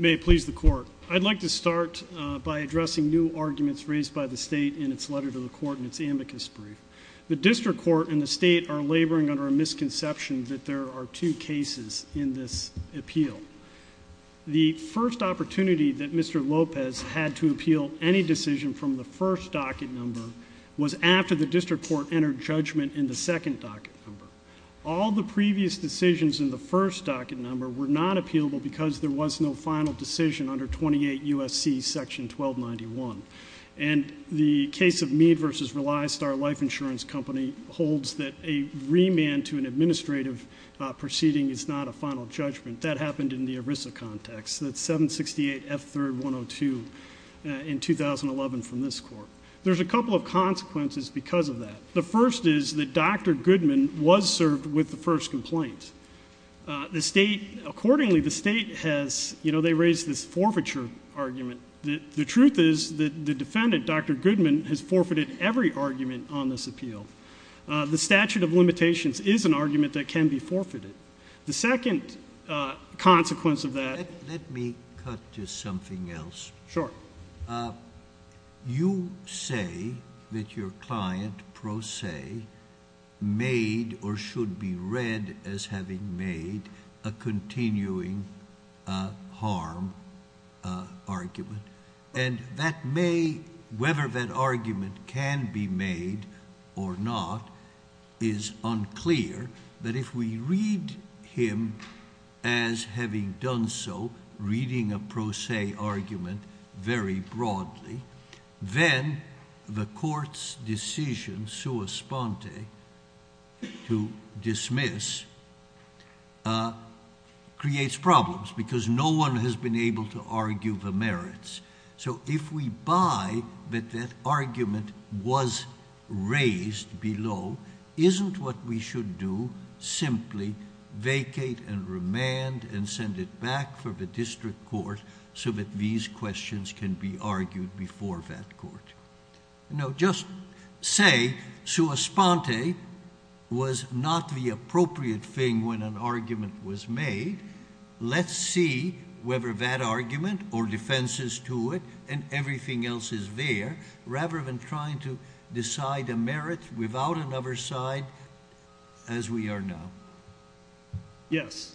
May it please the court. I'd like to start by addressing new arguments raised by the state in its letter to the court in its amicus brief. The district court and the state are laboring under a misconception that there are two cases in this appeal. The first opportunity that Mr. Lopez had to appeal any decision from the first docket number was after the district court entered judgment in the second docket number. All the previous decisions in the first docket number were not appealable because there was no final decision under 28 U.S.C. section 1291. And the case of Mead v. Rely Star Life Insurance Company holds that a remand to an administrative proceeding is not a final judgment. That happened in the ERISA context. That's 768 F3rd 102 in 2011 from this court. There's a couple of consequences because of that. The first is that Dr. Goodman was served with the first complaint. Accordingly, the state has raised this forfeiture argument. The truth is that the defendant, Dr. Goodman, has forfeited every argument on this appeal. The statute of limitations is an argument that can be forfeited. The second consequence of that— Let me cut to something else. Sure. You say that your client, pro se, made or should be read as having made a continuing harm argument. Whether that argument can be made or not is unclear. But if we read him as having done so, reading a pro se argument very broadly, then the court's decision, sua sponte, to dismiss, creates problems because no one has been able to argue the merits. If we buy that that argument was raised below, isn't what we should do simply vacate and remand and send it back for the district court so that these questions can be argued before that court? Just say sua sponte was not the appropriate thing when an argument was made. Let's see whether that argument, or defenses to it, and everything else is there, rather than trying to decide a merit without another side, as we are now. Yes.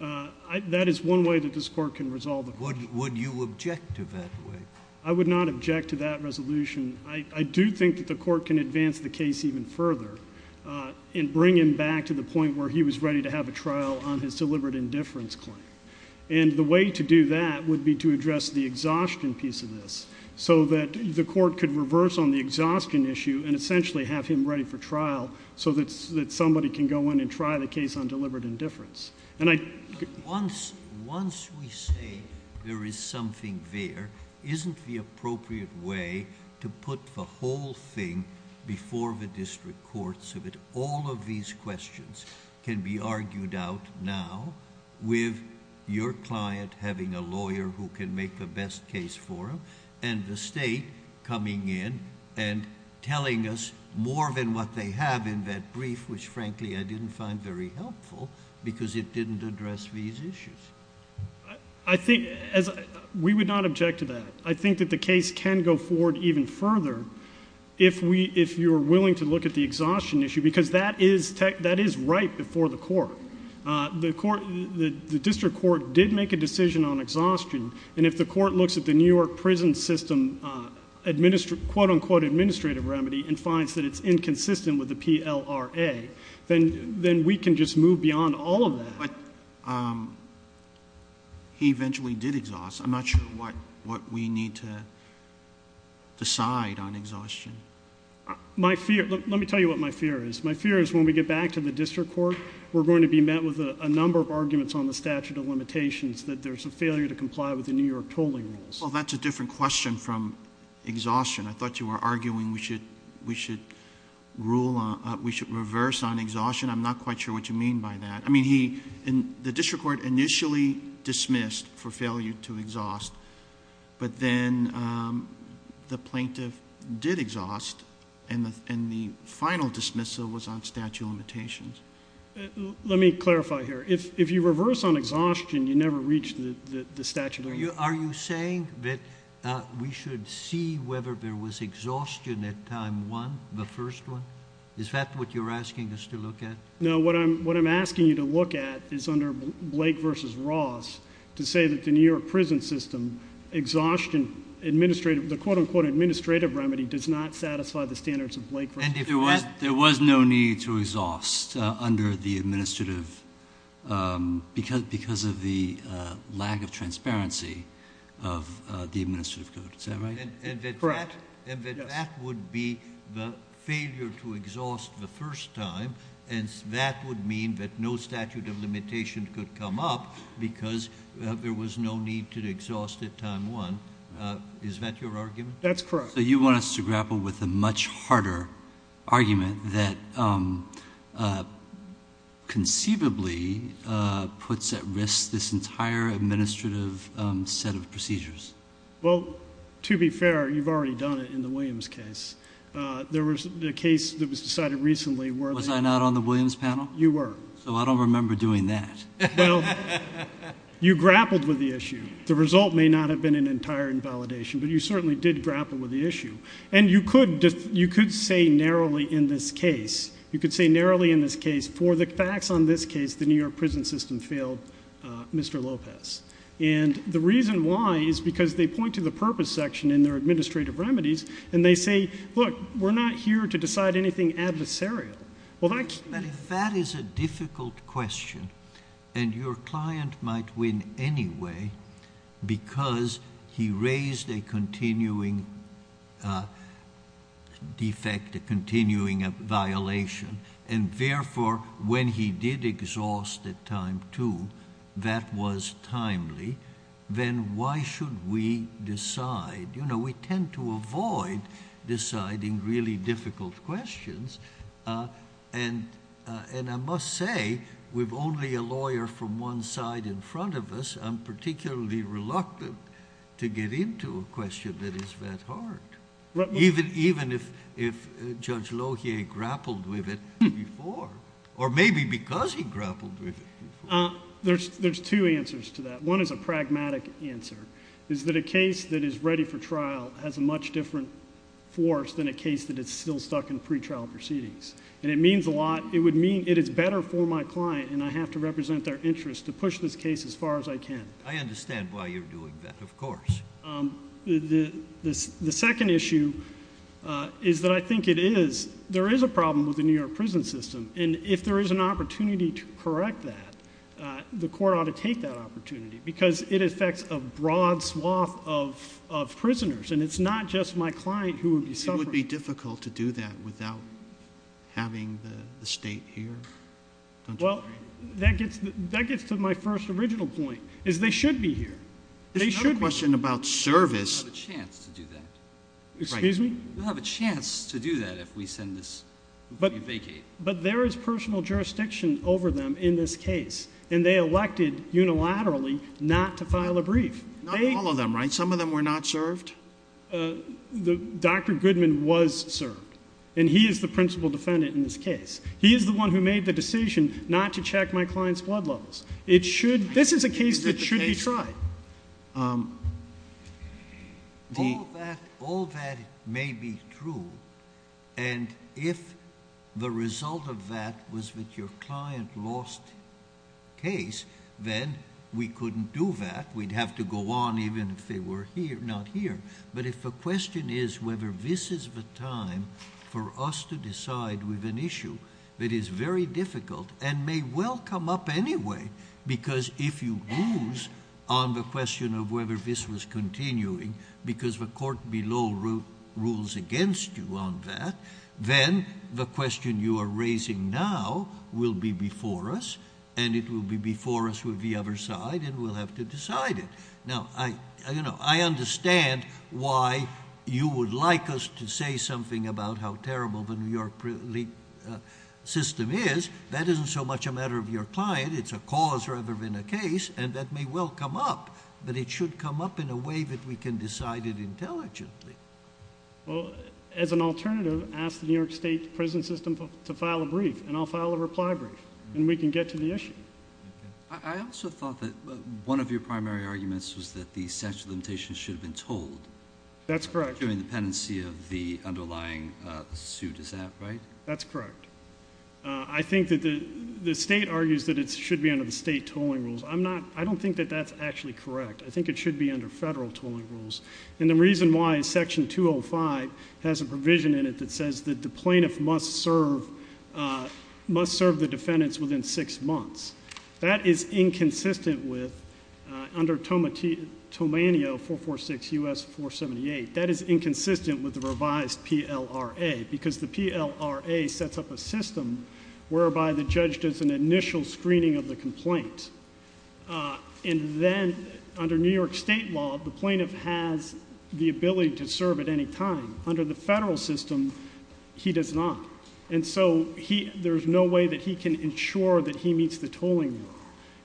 That is one way that this court can resolve it. Would you object to that way? I would not object to that resolution. I do think that the court can advance the case even further and bring him back to the point where he was ready to have a trial on his deliberate indifference claim. And the way to do that would be to address the exhaustion piece of this so that the court could reverse on the exhaustion issue and essentially have him ready for trial so that somebody can go in and try the case on deliberate indifference. Once we say there is something there, isn't the appropriate way to put the whole thing before the district courts so that all of these questions can be argued out now with your client having a lawyer who can make the best case for him and the state coming in and telling us more than what they have in that brief, which frankly I didn't find very helpful because it didn't address these issues. We would not object to that. I think that the case can go forward even further if you are willing to look at the exhaustion issue because that is right before the court. The district court did make a decision on exhaustion, and if the court looks at the New York prison system quote-unquote administrative remedy and finds that it's inconsistent with the PLRA, then we can just move beyond all of that. But he eventually did exhaust. I'm not sure what we need to decide on exhaustion. Let me tell you what my fear is. My fear is when we get back to the district court, we're going to be met with a number of arguments on the statute of limitations that there's a failure to comply with the New York tolling rules. Well, that's a different question from exhaustion. I thought you were arguing we should reverse on exhaustion. I'm not quite sure what you mean by that. I mean the district court initially dismissed for failure to exhaust, but then the plaintiff did exhaust, and the final dismissal was on statute of limitations. Let me clarify here. If you reverse on exhaustion, you never reach the statute of limitations. Are you saying that we should see whether there was exhaustion at time one, the first one? Is that what you're asking us to look at? No. What I'm asking you to look at is under Blake v. Ross to say that the New York prison system exhaustion the quote-unquote administrative remedy does not satisfy the standards of Blake v. Ross. There was no need to exhaust because of the lack of transparency of the administrative code. Is that right? Correct. That would be the failure to exhaust the first time, and that would mean that no statute of limitations could come up because there was no need to exhaust at time one. Is that your argument? That's correct. So you want us to grapple with a much harder argument that conceivably puts at risk this entire administrative set of procedures. Well, to be fair, you've already done it in the Williams case. There was a case that was decided recently where they were. Was I not on the Williams panel? You were. So I don't remember doing that. Well, you grappled with the issue. The result may not have been an entire invalidation, but you certainly did grapple with the issue. And you could say narrowly in this case, you could say narrowly in this case, for the facts on this case, the New York prison system failed Mr. Lopez. And the reason why is because they point to the purpose section in their administrative remedies, and they say, look, we're not here to decide anything adversarial. If that is a difficult question and your client might win anyway because he raised a continuing defect, a continuing violation, and, therefore, when he did exhaust at time two, that was timely, then why should we decide? We tend to avoid deciding really difficult questions, and I must say with only a lawyer from one side in front of us, I'm particularly reluctant to get into a question that is that hard, even if Judge Lohier grappled with it before, or maybe because he grappled with it before. There's two answers to that. One is a pragmatic answer. It's that a case that is ready for trial has a much different force than a case that is still stuck in pretrial proceedings. And it means a lot. It would mean it is better for my client, and I have to represent their interest to push this case as far as I can. I understand why you're doing that, of course. The second issue is that I think it is, there is a problem with the New York prison system, and if there is an opportunity to correct that, the court ought to take that opportunity because it affects a broad swath of prisoners, and it's not just my client who would be suffering. It would be difficult to do that without having the state here. Well, that gets to my first original point, is they should be here. There's another question about service. We'll have a chance to do that. Excuse me? We'll have a chance to do that if we send this, if we vacate. But there is personal jurisdiction over them in this case, and they elected unilaterally not to file a brief. Not all of them, right? Some of them were not served? Dr. Goodman was served, and he is the principal defendant in this case. He is the one who made the decision not to check my client's blood levels. This is a case that should be tried. All of that may be true, and if the result of that was that your client lost case, then we couldn't do that. We'd have to go on even if they were not here. But if the question is whether this is the time for us to decide with an issue that is very difficult and may well come up anyway because if you lose on the question of whether this was continuing because the court below rules against you on that, then the question you are raising now will be before us, and it will be before us with the other side, and we'll have to decide it. Now, I understand why you would like us to say something about how terrible the New York system is. That isn't so much a matter of your client. It's a cause rather than a case, and that may well come up, but it should come up in a way that we can decide it intelligently. Well, as an alternative, ask the New York State prison system to file a brief, and I'll file a reply brief, and we can get to the issue. I also thought that one of your primary arguments was that the statute of limitations should have been told. That's correct. During the pendency of the underlying suit. Is that right? That's correct. I think that the state argues that it should be under the state tolling rules. I don't think that that's actually correct. I think it should be under federal tolling rules, and the reason why is Section 205 has a provision in it that says that the plaintiff must serve the defendants within six months. That is inconsistent with under Tomanio 446 U.S. 478. That is inconsistent with the revised PLRA, because the PLRA sets up a system whereby the judge does an initial screening of the complaint. And then under New York State law, the plaintiff has the ability to serve at any time. Under the federal system, he does not. And so there's no way that he can ensure that he meets the tolling rule.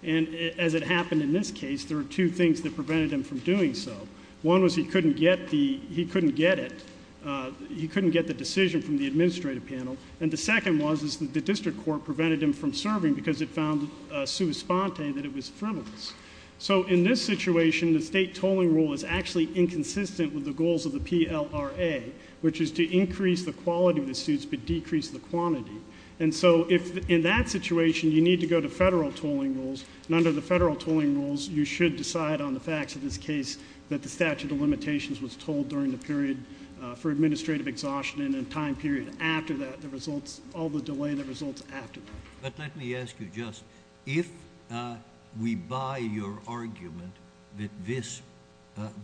And as it happened in this case, there are two things that prevented him from doing so. One was he couldn't get it. He couldn't get the decision from the administrative panel. And the second was that the district court prevented him from serving because it found sui sponte that it was frivolous. So in this situation, the state tolling rule is actually inconsistent with the goals of the PLRA, which is to increase the quality of the suits but decrease the quantity. And so in that situation, you need to go to federal tolling rules, and under the federal tolling rules, you should decide on the facts of this case that the statute of limitations was told during the period for administrative exhaustion and a time period after that, the results, all the delay that results after that. But let me ask you just, if we buy your argument that this,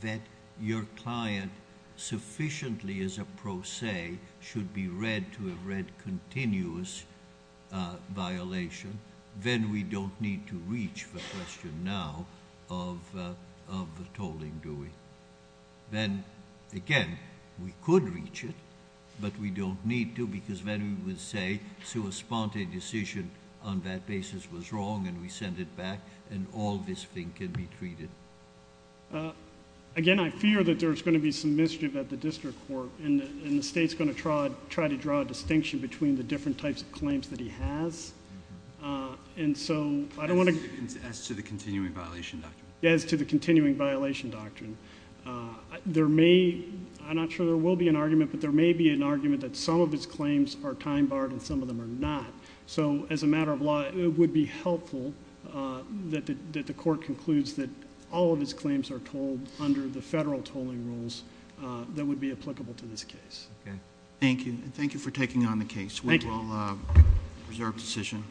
that your client sufficiently is a pro se should be read to have read continuous violation, then we don't need to reach the question now of the tolling, do we? Then, again, we could reach it, but we don't need to because then we would say, sui sponte decision on that basis was wrong, and we send it back, and all this thing can be treated. Again, I fear that there's going to be some mischief at the district court, and the state's going to try to draw a distinction between the different types of claims that he has. And so I don't want to- As to the continuing violation doctrine. As to the continuing violation doctrine. There may, I'm not sure there will be an argument, but there may be an argument that some of his claims are time barred and some of them are not. So as a matter of law, it would be helpful that the court concludes that all of his claims are told that would be applicable to this case. Okay. Thank you. Thank you for taking on the case. Thank you. We will reserve decision.